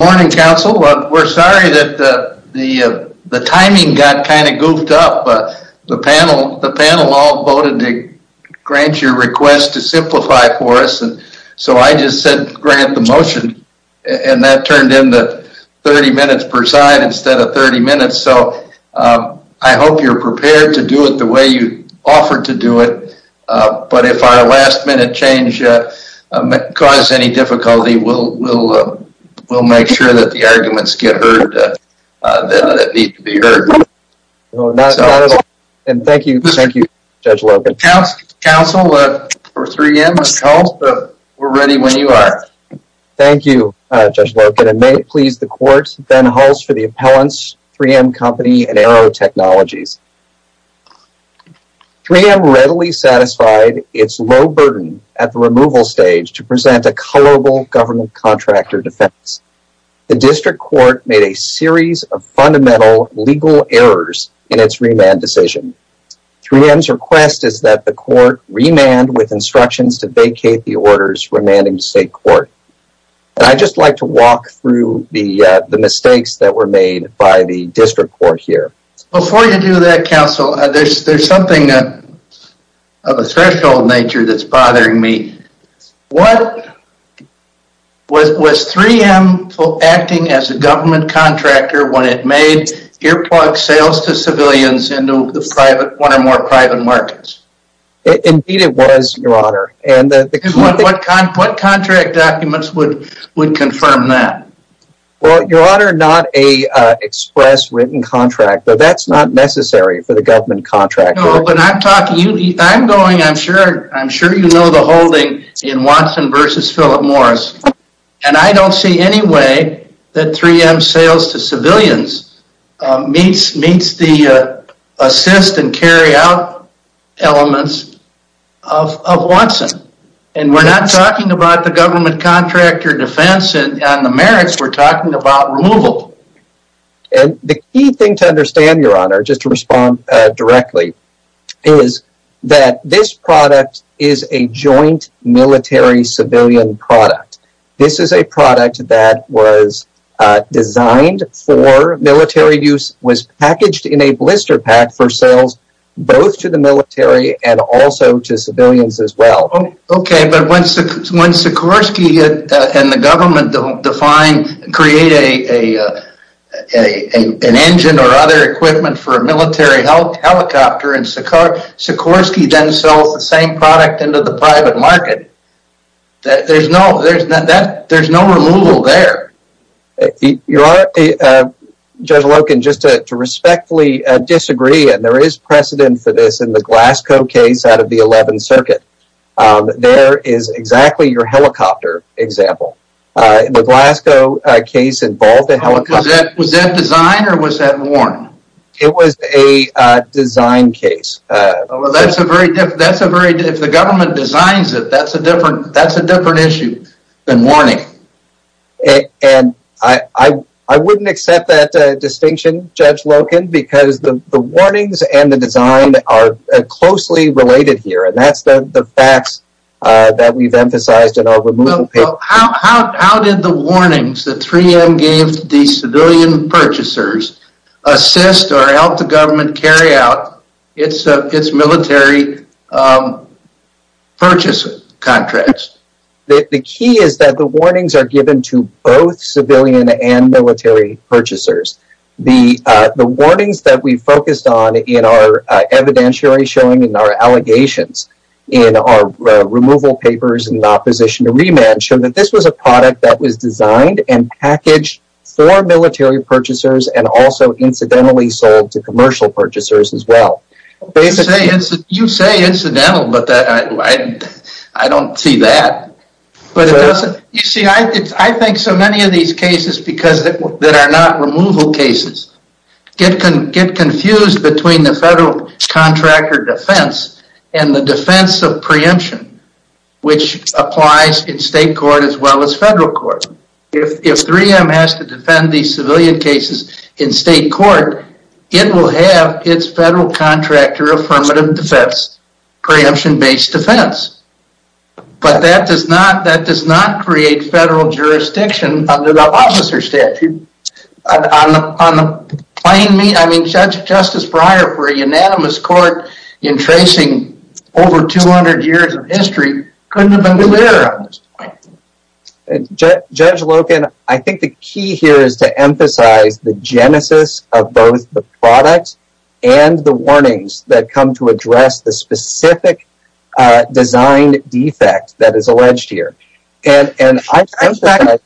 Morning Council. We're sorry that the timing got kind of goofed up. The panel all voted to grant your request to simplify for us, so I just said grant the motion and that turned into 30 minutes per side instead of 30 minutes, so I hope you're prepared to do it the way you offered to do it, but if our last minute change causes any difficulty, we'll make sure that the arguments get heard that need to be heard. Not at all, and thank you, Judge Loken. Council, 3M has called, but we're ready when you are. Thank you, Judge Loken, and may it please the court, Ben Hulse for the appellants, 3M Company, and Arrow Technologies. 3M readily satisfied its low burden at the removal stage to present a colorable government contractor defense. The district court made a series of fundamental legal errors in its remand decision. 3M's request is that the court remand with instructions to vacate the orders remanding the state court, and I'd just like to walk through the mistakes that were made by the district court here. Before you do that, Council, there's something of a threshold nature that's bothering me. Was 3M acting as a government contractor when it made earplugs sales to civilians into one or more private markets? Indeed it was, Your Honor. What contract documents would confirm that? Well, Your Honor, not an express written contract, but that's not necessary for the government contractor. I'm sure you know the holding in Watson v. Philip Morris, and I don't see any way that 3M sales to civilians meets the assist and carry out elements of Watson, and we're not talking about the government contractor defense and the merits, we're talking about removal. The key thing to understand, Your Honor, just to respond directly, is that this product is a joint military-civilian product. This is a product that was designed for military use, was packaged in a blister pack for sales both to the military and also to civilians as well. Okay, but when Sikorsky and the government create an engine or other equipment for a military helicopter, and Sikorsky then sells the same product into the private market, there's no removal there. Your Honor, Judge Loken, just to respectfully disagree, and there is precedent for this in the Glasgow case out of the 11th Circuit, there is exactly your helicopter example. Was that design or was that warning? It was a design case. If the government designs it, that's a different issue than warning. I wouldn't accept that distinction, Judge Loken, because the warnings and the design are closely related here, and that's the facts that we've emphasized in our removal paper. How did the warnings that 3M gave to the civilian purchasers assist or help the government carry out its military purchase contracts? The key is that the warnings are given to both civilian and military purchasers. The warnings that we focused on in our evidentiary showing and our allegations in our removal papers and opposition to remand show that this was a product that was designed and packaged for military purchasers and also incidentally sold to commercial purchasers as well. You say incidental, but I don't see that. You see, I think so many of these cases that are not removal cases get confused between the federal contractor defense and the defense of preemption, which applies in state court as well as federal court. If 3M has to defend these civilian cases in state court, it will have its federal contractor affirmative defense, preemption-based defense. But that does not create federal jurisdiction under the officer statute. I mean, Justice Breyer, for a unanimous court in tracing over 200 years of history, couldn't have been clearer on this point. Judge Loken, I think the key here is to emphasize the genesis of both the product and the warnings that come to address the specific design defect that is alleged here. I'm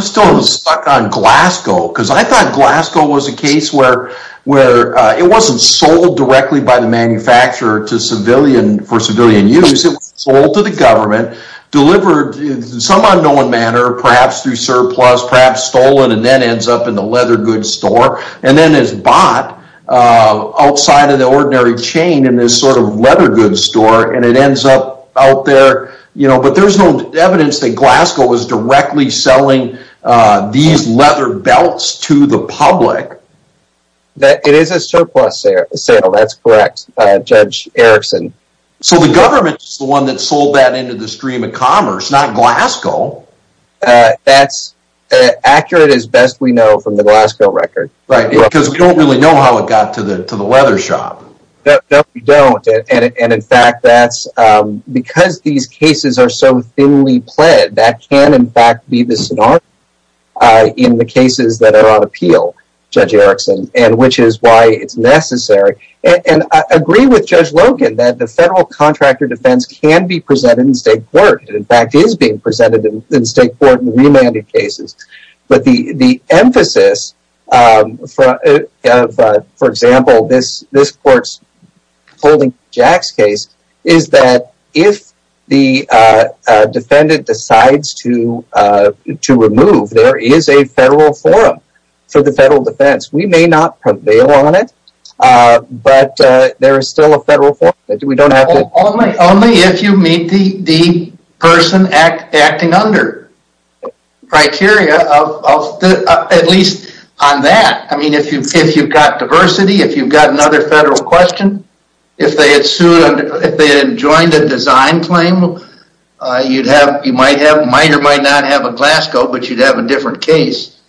still stuck on Glasgow because I thought Glasgow was a case where it wasn't sold directly by the manufacturer for civilian use. It was sold to the government, delivered in some unknown manner, perhaps through surplus, perhaps stolen, and then ends up in the leather goods store, and then is bought outside of the ordinary chain in this sort of leather goods store, and it ends up out there. But there's no evidence that Glasgow was directly selling these leather belts to the public. It is a surplus sale, that's correct, Judge Erickson. So the government is the one that sold that into the stream of commerce, not Glasgow. That's accurate as best we know from the Glasgow record. Right, because we don't really know how it got to the leather shop. No, we don't, and in fact, because these cases are so thinly pled, that can in fact be the scenario in the cases that are on appeal, Judge Erickson, which is why it's necessary. And I agree with Judge Logan that the federal contractor defense can be presented in state court, and in fact is being presented in state court in remanded cases. But the emphasis, for example, this court's holding Jack's case, is that if the defendant decides to remove, there is a federal forum for the federal defense. We may not prevail on it, but there is still a federal forum. Only if you meet the person acting under criteria, at least on that. I mean, if you've got diversity, if you've got another federal question, if they had joined a design claim, you might or might not have a Glasgow, but you'd have a different case.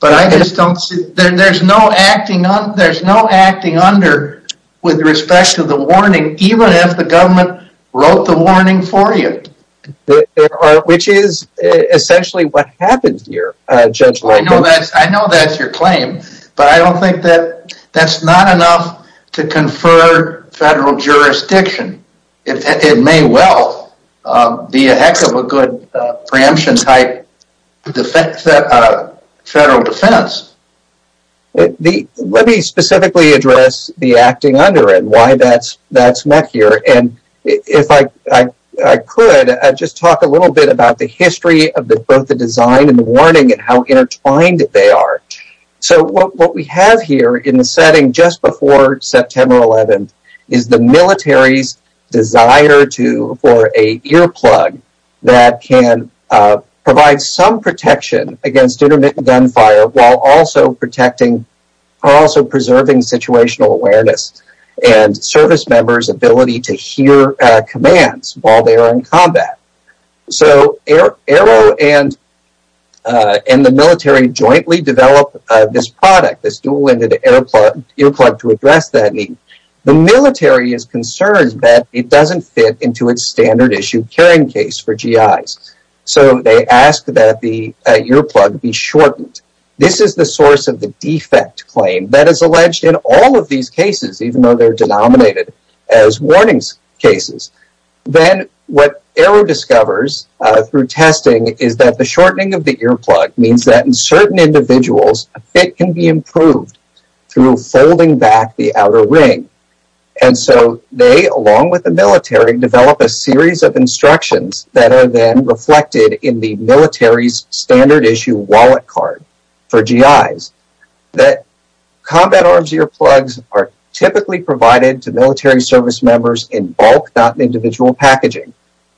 But I just don't see, there's no acting under with respect to the warning, even if the government wrote the warning for you. Which is essentially what happened here, Judge Logan. I know that's your claim, but I don't think that's not enough to confer federal jurisdiction. It may well be a heck of a good preemption type federal defense. Let me specifically address the acting under and why that's met here. If I could, I'd just talk a little bit about the history of both the design and the warning and how intertwined they are. What we have here in the setting just before September 11th is the military's desire for an earplug that can provide some protection against intermittent gunfire, while also preserving situational awareness. And service members' ability to hear commands while they are in combat. So Arrow and the military jointly developed this product, this dual-ended earplug to address that need. The military is concerned that it doesn't fit into its standard issue carrying case for GIs. So they ask that the earplug be shortened. This is the source of the defect claim that is alleged in all of these cases, even though they are denominated as warnings cases. Then what Arrow discovers through testing is that the shortening of the earplug means that in certain individuals, a fit can be improved through folding back the outer ring. And so they, along with the military, develop a series of instructions that are then reflected in the military's standard issue wallet card for GIs. That combat arms earplugs are typically provided to military service members in bulk, not in individual packaging.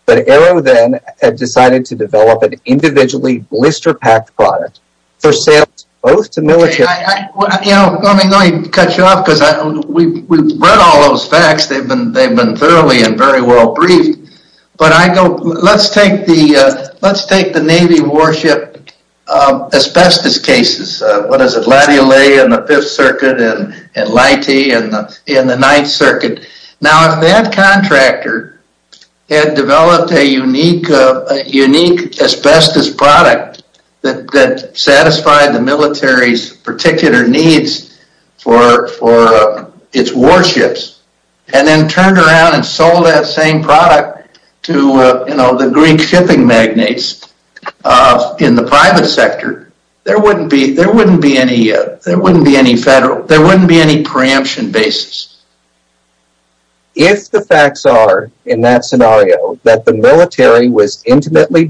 But Arrow then decided to develop an individually blister-packed product for sales both to military... Let me cut you off because we've read all those facts. They've been thoroughly and very well briefed. But let's take the Navy warship asbestos cases. What is it, Latty-O-Lay in the 5th Circuit and Lighty in the 9th Circuit. Now if that contractor had developed a unique asbestos product that satisfied the military's particular needs for its warships, and then turned around and sold that same product to the Greek shipping magnates in the private sector, there wouldn't be any preemption basis. If the facts are, in that scenario, that the military was intimately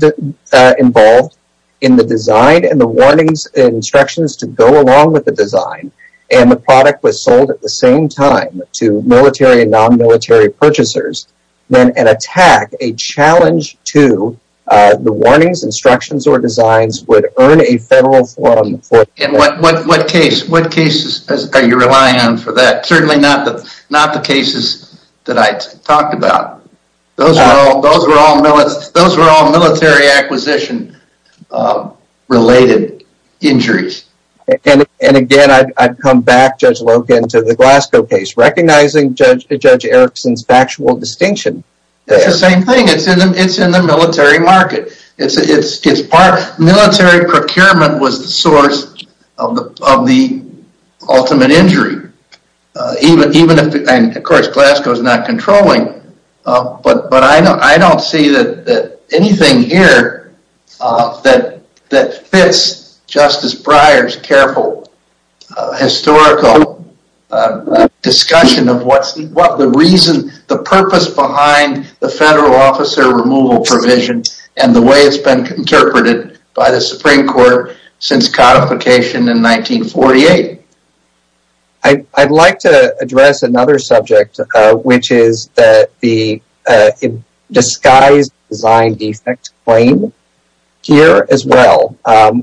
involved in the design and the warnings and instructions to go along with the design, and the product was sold at the same time to military and non-military purchasers, then an attack, a challenge to the warnings, instructions, or designs would earn a federal... And what cases are you relying on for that? Certainly not the cases that I talked about. Those were all military acquisition-related injuries. And again, I'd come back, Judge Logan, to the Glasgow case, recognizing Judge Erickson's factual distinction. It's the same thing. It's in the military market. Military procurement was the source of the ultimate injury. And of course, Glasgow is not controlling. But I don't see anything here that fits Justice Breyer's careful historical discussion of what the reason, the purpose behind the federal officer removal provision and the way it's been interpreted by the Supreme Court since codification in 1948. I'd like to address another subject, which is the disguised design defect claim here as well,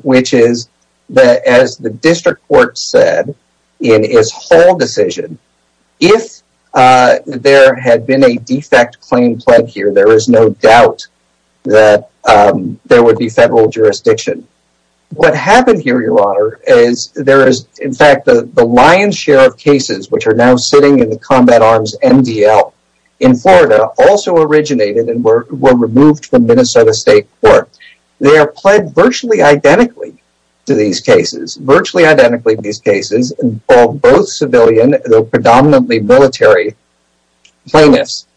which is, as the district court said in its whole decision, if there had been a defect claim pled here, there is no doubt that there would be federal jurisdiction. What happened here, Your Honor, is there is, in fact, the lion's share of cases, which are now sitting in the Combat Arms MDL in Florida, also originated and were removed from Minnesota State Court. They are pled virtually identically to these cases. Virtually identically to these cases involve both civilian, though predominantly military, plaintiffs.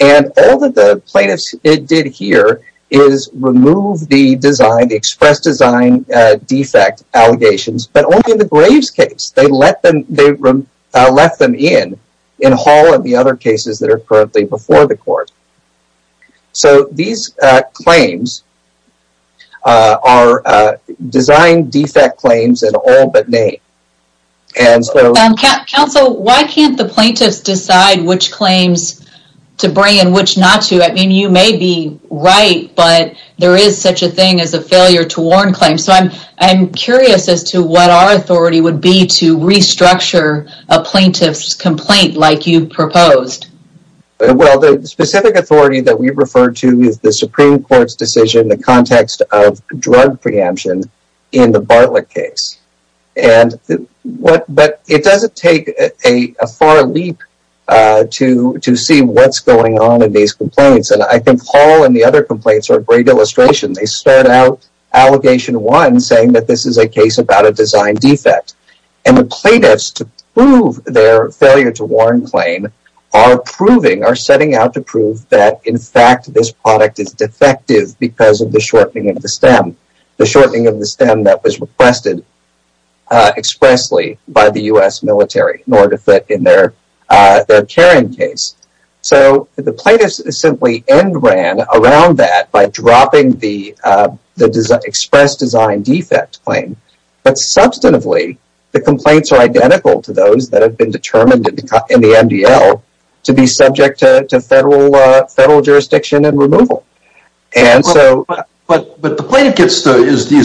And all that the plaintiffs did here is remove the express design defect allegations, but only in the Graves case. They left them in, in Hall and the other cases that are currently before the court. So these claims are design defect claims in all but name. Counsel, why can't the plaintiffs decide which claims to bring and which not to? I mean, you may be right, but there is such a thing as a failure to warn claim. So I'm curious as to what our authority would be to restructure a plaintiff's complaint like you proposed. Well, the specific authority that we refer to is the Supreme Court's decision in the context of drug preemption in the Bartlett case. But it doesn't take a far leap to see what's going on in these complaints. And I think Hall and the other complaints are a great illustration. They start out, allegation one, saying that this is a case about a design defect. And the plaintiffs, to prove their failure to warn claim, are proving, are setting out to prove, that in fact this product is defective because of the shortening of the stem. The shortening of the stem that was requested expressly by the U.S. military in order to fit in their carrying case. So the plaintiffs simply end-ran around that by dropping the express design defect claim. But substantively, the complaints are identical to those that have been determined in the MDL to be subject to federal jurisdiction and removal. But the plaintiff is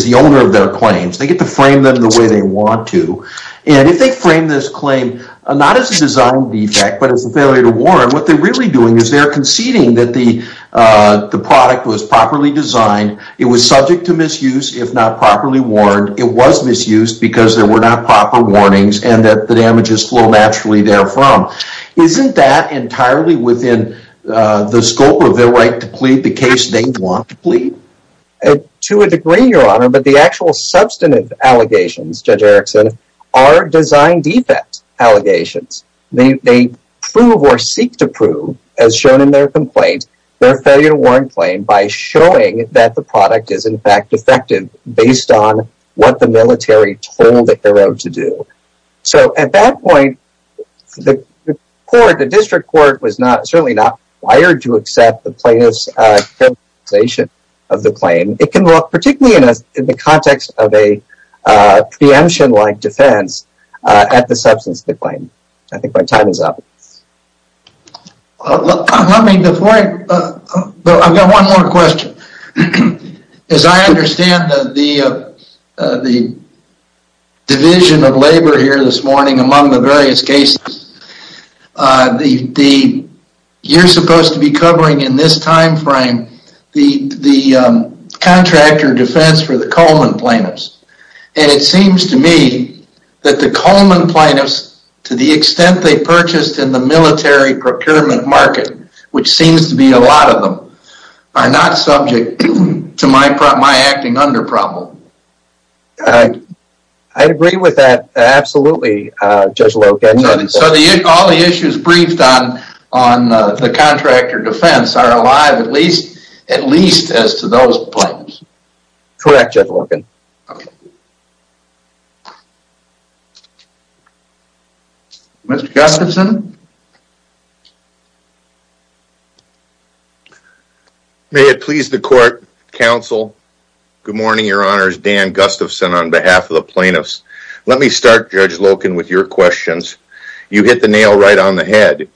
the owner of their claims. They get to frame them the way they want to. And if they frame this claim not as a design defect but as a failure to warn, what they're really doing is they're conceding that the product was properly designed, it was subject to misuse if not properly warned, it was misused because there were not proper warnings, and that the damages flow naturally therefrom. Isn't that entirely within the scope of their right to plead the case they want to plead? To a degree, Your Honor, but the actual substantive allegations, Judge Erickson, are design defect allegations. They prove or seek to prove, as shown in their complaint, their failure to warn claim by showing that the product is in fact defective based on what the military told the hero to do. So at that point, the district court was certainly not required to accept the plaintiff's characterization of the claim. It can look, particularly in the context of a preemption-like defense, at the substance of the claim. I think my time is up. I've got one more question. As I understand the division of labor here this morning among the various cases, you're supposed to be covering in this time frame the contractor defense for the Coleman plaintiffs. And it seems to me that the Coleman plaintiffs, to the extent they purchased in the military procurement market, which seems to be a lot of them, are not subject to my acting under problem. I agree with that absolutely, Judge Loken. So all the issues briefed on the contractor defense are alive at least as to those plaintiffs? Correct, Judge Loken. Okay. Mr. Gustafson? May it please the court, counsel, good morning, your honors, Dan Gustafson on behalf of the plaintiffs. Let me start, Judge Loken, with your questions. You hit the nail right on the head.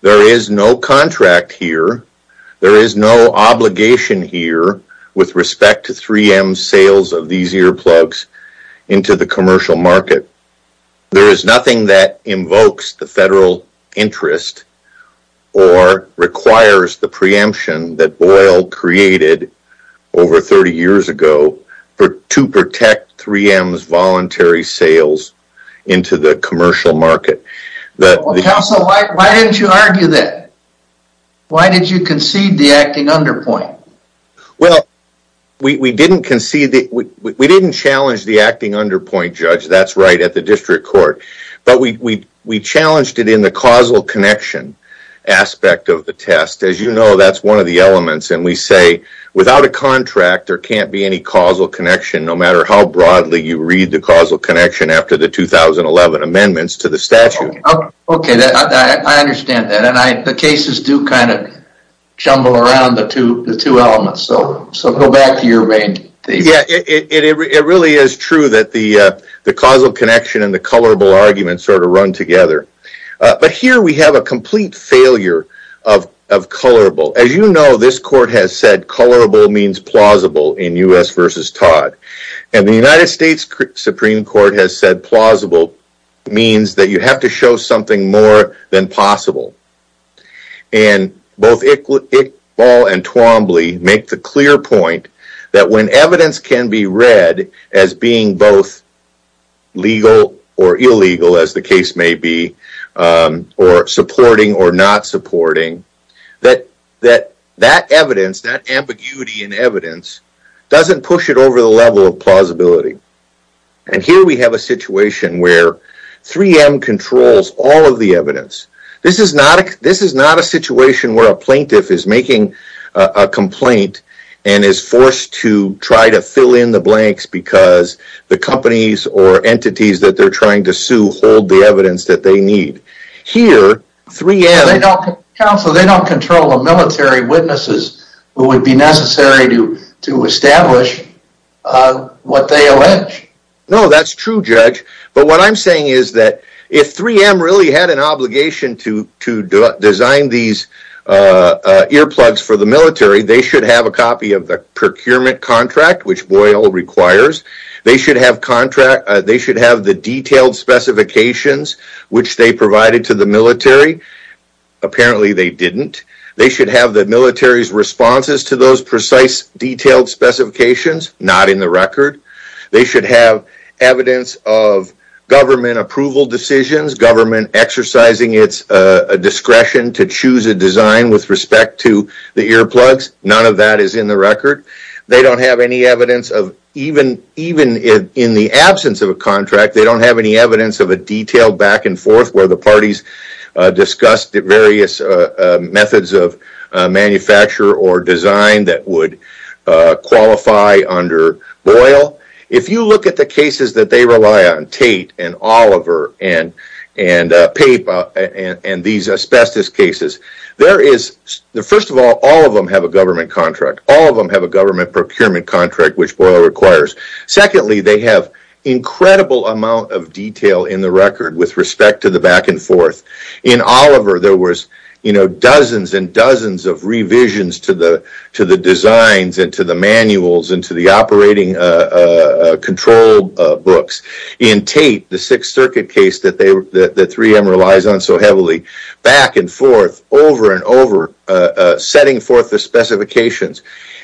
There is no contract here. There is no obligation here with respect to 3M's sales of these earplugs into the commercial market. There is nothing that invokes the federal interest or requires the preemption that Boyle created over 30 years ago to protect 3M's voluntary sales into the commercial market. Counsel, why didn't you argue that? Why did you concede the acting under point? Well, we didn't challenge the acting under point, Judge, that's right, at the district court. But we challenged it in the causal connection aspect of the test. As you know, that's one of the elements. And we say, without a contract, there can't be any causal connection, no matter how broadly you read the causal connection after the 2011 amendments to the statute. Okay, I understand that. And the cases do kind of jumble around the two elements. So go back to your main thesis. Yeah, it really is true that the causal connection and the colorable argument sort of run together. But here we have a complete failure of colorable. As you know, this court has said colorable means plausible in U.S. v. Todd. And the United States Supreme Court has said plausible means that you have to show something more than possible. And both Iqbal and Twombly make the clear point that when evidence can be read as being both legal or illegal, as the case may be, or supporting or not supporting, that that evidence, that ambiguity in evidence, doesn't push it over the level of plausibility. And here we have a situation where 3M controls all of the evidence. This is not a situation where a plaintiff is making a complaint and is forced to try to fill in the blanks because the companies or entities that they're trying to sue hold the evidence that they need. Counsel, they don't control the military witnesses who would be necessary to establish what they allege. No, that's true, Judge. But what I'm saying is that if 3M really had an obligation to design these earplugs for the military, they should have a copy of the procurement contract, which Boyle requires. They should have the detailed specifications, which they provided to the military. Apparently they didn't. They should have the military's responses to those precise detailed specifications. Not in the record. They should have evidence of government approval decisions, government exercising its discretion to choose a design with respect to the earplugs. None of that is in the record. They don't have any evidence of, even in the absence of a contract, they don't have any evidence of a detailed back and forth where the parties discussed various methods of manufacture or design that would qualify under Boyle. If you look at the cases that they rely on, Tate and Oliver and Pape and these asbestos cases, there is, first of all, all of them have a government contract. All of them have a government procurement contract, which Boyle requires. Secondly, they have incredible amount of detail in the record with respect to the back and forth. In Oliver, there was, you know, dozens and dozens of revisions to the designs and to the manuals and to the operating control books. In Tate, the Sixth Circuit case that 3M relies on so heavily, back and forth, over and over, setting forth the specifications.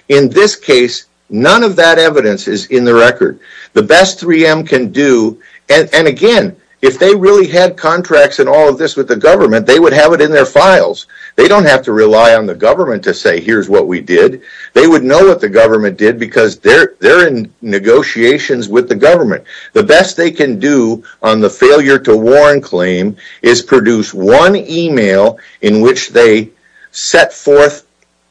In this case, none of that evidence is in the record. The best 3M can do, and again, if they really had contracts and all of this with the government, they would have it in their files. They don't have to rely on the government to say, here's what we did. They would know what the government did because they're in negotiations with the government. The best they can do on the failure to warn claim is produce one email in which they set forth,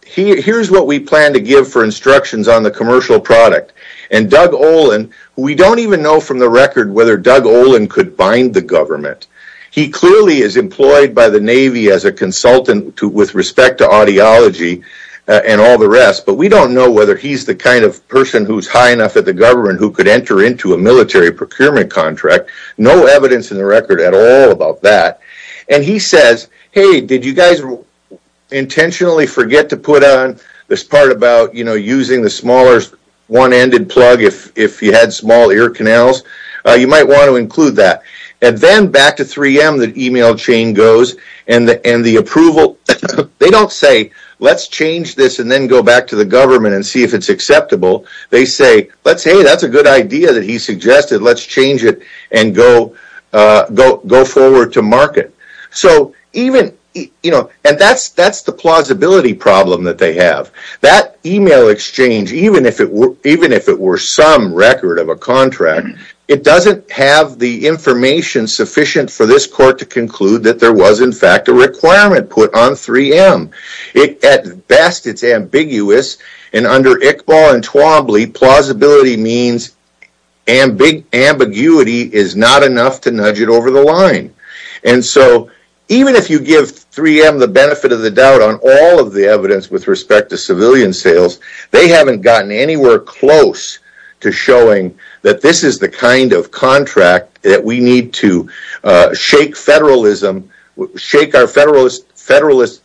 here's what we plan to give for instructions on the commercial product. And Doug Olin, we don't even know from the record whether Doug Olin could bind the government. He clearly is employed by the Navy as a consultant with respect to audiology and all the rest, but we don't know whether he's the kind of person who's high enough at the government who could enter into a military procurement contract. No evidence in the record at all about that. And he says, hey, did you guys intentionally forget to put on this part about, you know, using the smaller one-ended plug if you had small ear canals? You might want to include that. And then back to 3M, the email chain goes, and the approval, they don't say, let's change this and then go back to the government and see if it's acceptable. They say, hey, that's a good idea that he suggested. Let's change it and go forward to market. So even, you know, and that's the plausibility problem that they have. That email exchange, even if it were some record of a contract, it doesn't have the information sufficient for this court to conclude that there was, in fact, a requirement put on 3M. At best, it's ambiguous. And under Iqbal and Twombly, plausibility means ambiguity is not enough to nudge it over the line. And so even if you give 3M the benefit of the doubt on all of the evidence with respect to civilian sales, they haven't gotten anywhere close to showing that this is the kind of contract that we need to shake federalism, shake our federalist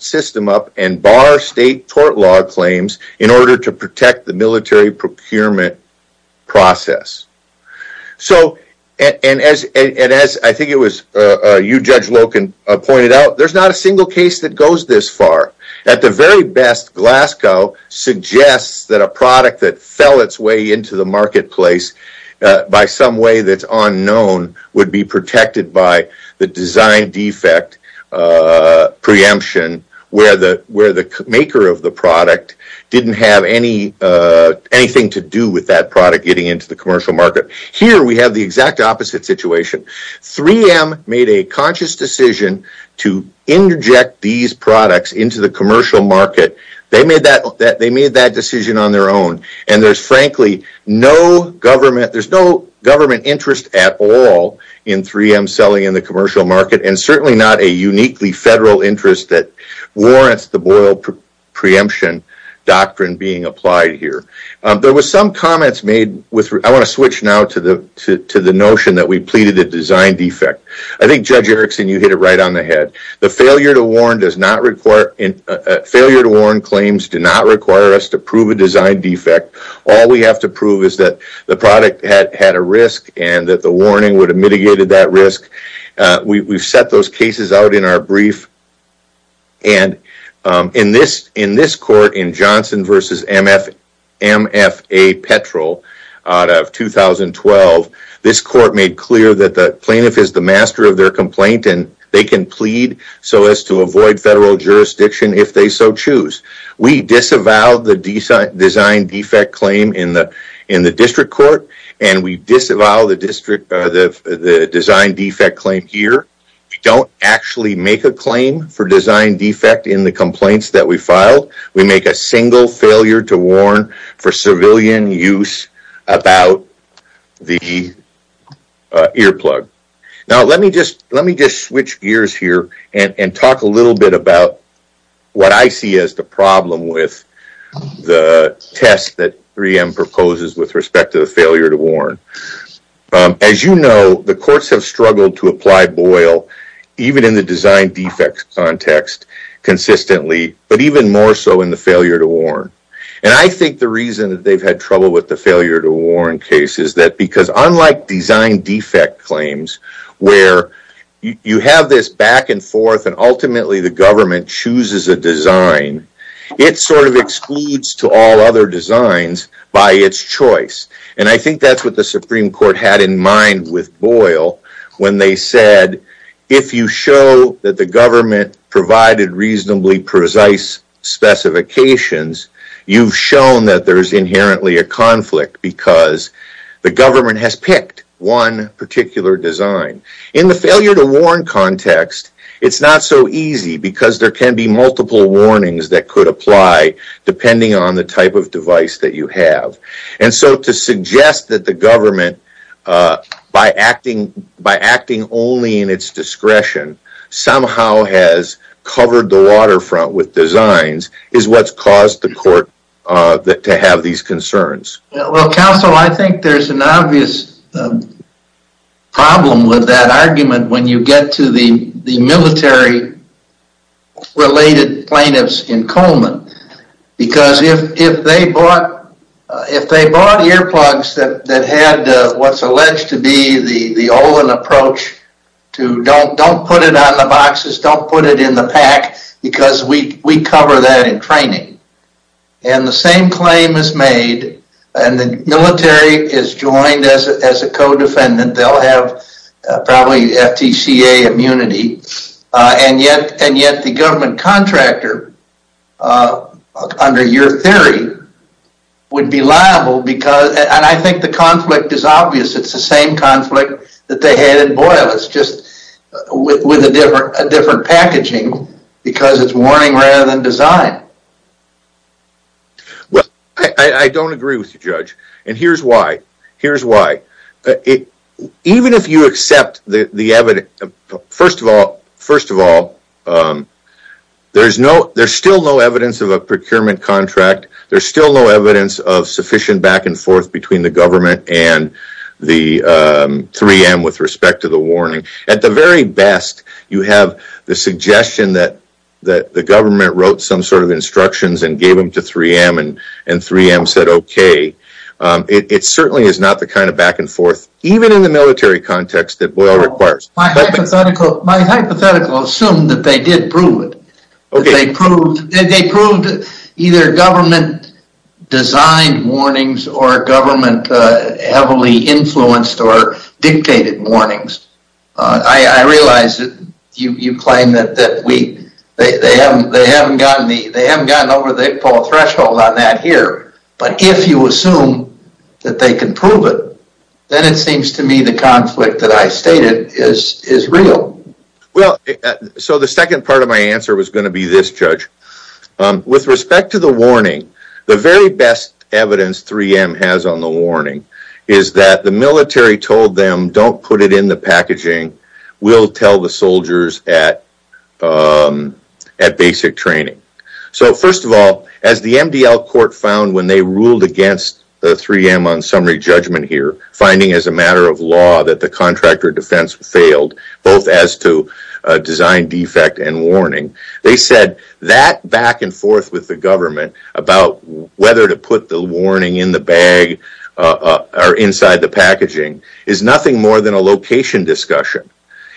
system up and bar state tort law claims in order to protect the military procurement process. So, and as I think it was you, Judge Loken, pointed out, there's not a single case that goes this far. At the very best, Glasgow suggests that a product that fell its way into the marketplace by some way that's unknown would be protected by the design defect preemption where the maker of the product didn't have anything to do with that product getting into the commercial market. Here, we have the exact opposite situation. 3M made a conscious decision to inject these products into the commercial market. They made that decision on their own. And there's frankly no government interest at all in 3M selling in the commercial market and certainly not a uniquely federal interest that warrants the Boyle preemption doctrine being applied here. There was some comments made, I want to switch now to the notion that we pleaded a design defect. I think, Judge Erickson, you hit it right on the head. The failure to warn claims do not require us to prove a design defect. All we have to prove is that the product had a risk and that the warning would have mitigated that risk. We've set those cases out in our brief. And in this court, in Johnson v. MFA Petrel out of 2012, this court made clear that the plaintiff is the master of their plea so as to avoid federal jurisdiction if they so choose. We disavowed the design defect claim in the district court and we disavowed the design defect claim here. We don't actually make a claim for design defect in the complaints that we filed. We make a single failure to warn for civilian use about the earplug. Now, let me just switch gears here and talk a little bit about what I see as the problem with the test that 3M proposes with respect to the failure to warn. As you know, the courts have struggled to apply Boyle even in the design defect context consistently, but even more so in the failure to warn. And I think the reason that they've had trouble with the failure to warn case is that because unlike design defect claims, where you have this back and forth and ultimately the government chooses a design, it sort of excludes to all other designs by its choice. And I think that's what the Supreme Court had in mind with Boyle when they said, if you show that the government provided reasonably precise specifications, you've shown that there's inherently a conflict because the government has picked one particular design. In the failure to warn context, it's not so easy because there can be multiple warnings that could apply depending on the type of device that you have. And so to suggest that the government, by acting only in its discretion, somehow has covered the waterfront with designs is what's caused the court to have these concerns. Well, counsel, I think there's an obvious problem with that argument when you get to the military-related plaintiffs in Coleman. Because if they bought earplugs that had what's alleged to be the Olin approach to don't put it on the boxes, don't put it in the pack, because we cover that in training. And the same claim is made, and the military is joined as a co-defendant. They'll have probably FTCA immunity. And yet the government contractor, under your theory, would be liable because, and I think the conflict is obvious, it's the same conflict that they had in Boyle. It's just with a different packaging because it's warning rather than design. Well, I don't agree with you, Judge. And here's why. Here's why. Even if you accept the evidence, first of all, there's still no evidence of a procurement contract. There's still no evidence of sufficient back and forth between the government and the 3M with respect to the warning. At the very best, you have the suggestion that the government wrote some sort of instructions and gave them to 3M and 3M said okay. It certainly is not the kind of back and forth, even in the military context, that Boyle requires. My hypothetical assumed that they did prove it. They proved either government-designed warnings or government-heavily influenced or dictated warnings. I realize that you claim that they haven't gotten over the threshold on that here. But if you assume that they can prove it, then it seems to me the conflict that I stated is real. Well, so the second part of my answer was going to be this, Judge. With respect to the warning, the very best evidence 3M has on the warning is that the military told them don't put it in the packaging. We'll tell the soldiers at basic training. So first of all, as the MDL court found when they ruled against the 3M on summary judgment here, finding as a matter of law that the contractor defense failed, both as to design defect and warning, they said that back and forth with the government about whether to put the warning in the bag or inside the packaging is nothing more than a location discussion.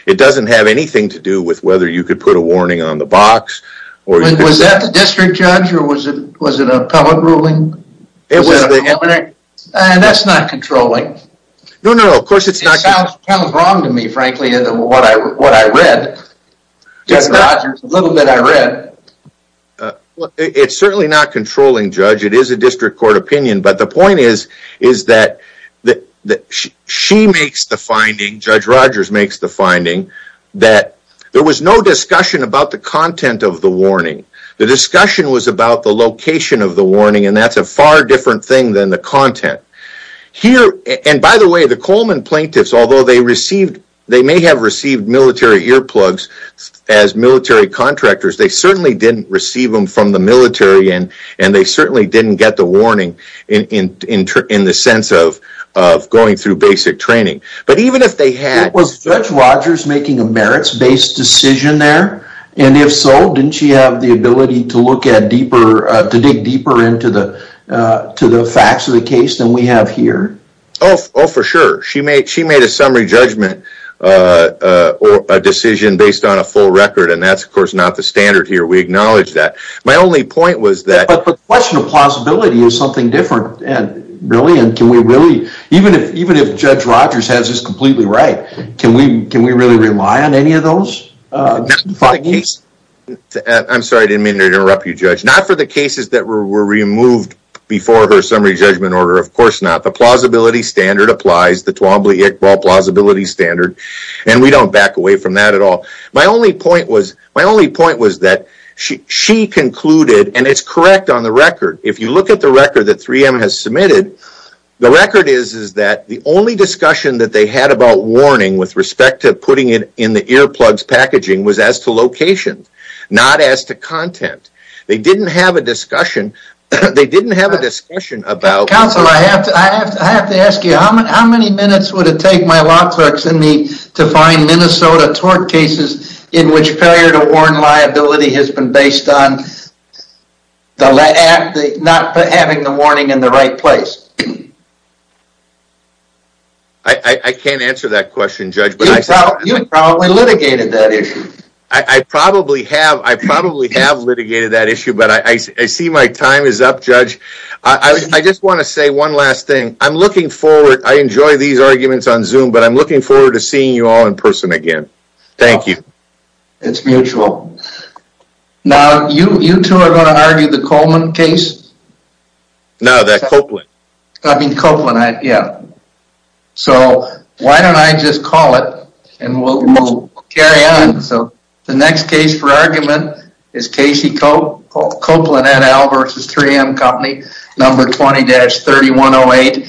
It doesn't have anything to do with whether you could put a warning on the box. Was that the district judge or was it an appellate ruling? It was the appellate. That's not controlling. No, no, of course it's not. It sounds wrong to me, frankly, what I read. Judge Rogers, a little bit I read. It's certainly not controlling, Judge. It is a district court opinion. But the point is that she makes the finding, Judge Rogers makes the finding, that there was no discussion about the content of the warning. The discussion was about the location of the warning, and that's a far different thing than the content. Here, and by the way, the Coleman plaintiffs, although they received, they may have received military earplugs as military contractors, they certainly didn't receive them from the military, and they certainly didn't get the warning in the sense of going through basic training. But even if they had... Was Judge Rogers making a merits-based decision there? And if so, didn't she have the ability to look at deeper, to dig deeper into the facts of the case than we have here? Oh, for sure. She made a summary judgment decision based on a full record, and that's, of course, not the standard here. We acknowledge that. My only point was that... But the question of plausibility is something different, really, and can we really... Even if Judge Rogers has this completely right, can we really rely on any of those findings? I'm sorry, I didn't mean to interrupt you, Judge. Not for the cases that were removed before her summary judgment order, of course not. The plausibility standard applies, the Twombly-Iqbal plausibility standard, and we don't back away from that at all. My only point was that she concluded, and it's correct on the record. If you look at the record that 3M has submitted, the record is that the only discussion that they had about warning with respect to putting it in the earplugs packaging was as to location, not as to content. They didn't have a discussion about... Counsel, I have to ask you, how many minutes would it take my law clerks to find Minnesota tort cases in which failure to warn liability has been based on not having the warning in the right place? I can't answer that question, Judge. You probably litigated that issue. I probably have. I probably have litigated that issue, but I see my time is up, Judge. I just want to say one last thing. I'm looking forward... I enjoy these arguments on Zoom, but I'm looking forward to seeing you all in person again. Thank you. It's mutual. Now, you two are going to argue the Coleman case? No, that's Copeland. I mean, Copeland, yeah. So, why don't I just call it, and we'll carry on. So, the next case for argument is Casey Copeland et al. versus 3M Company, number 20-3108.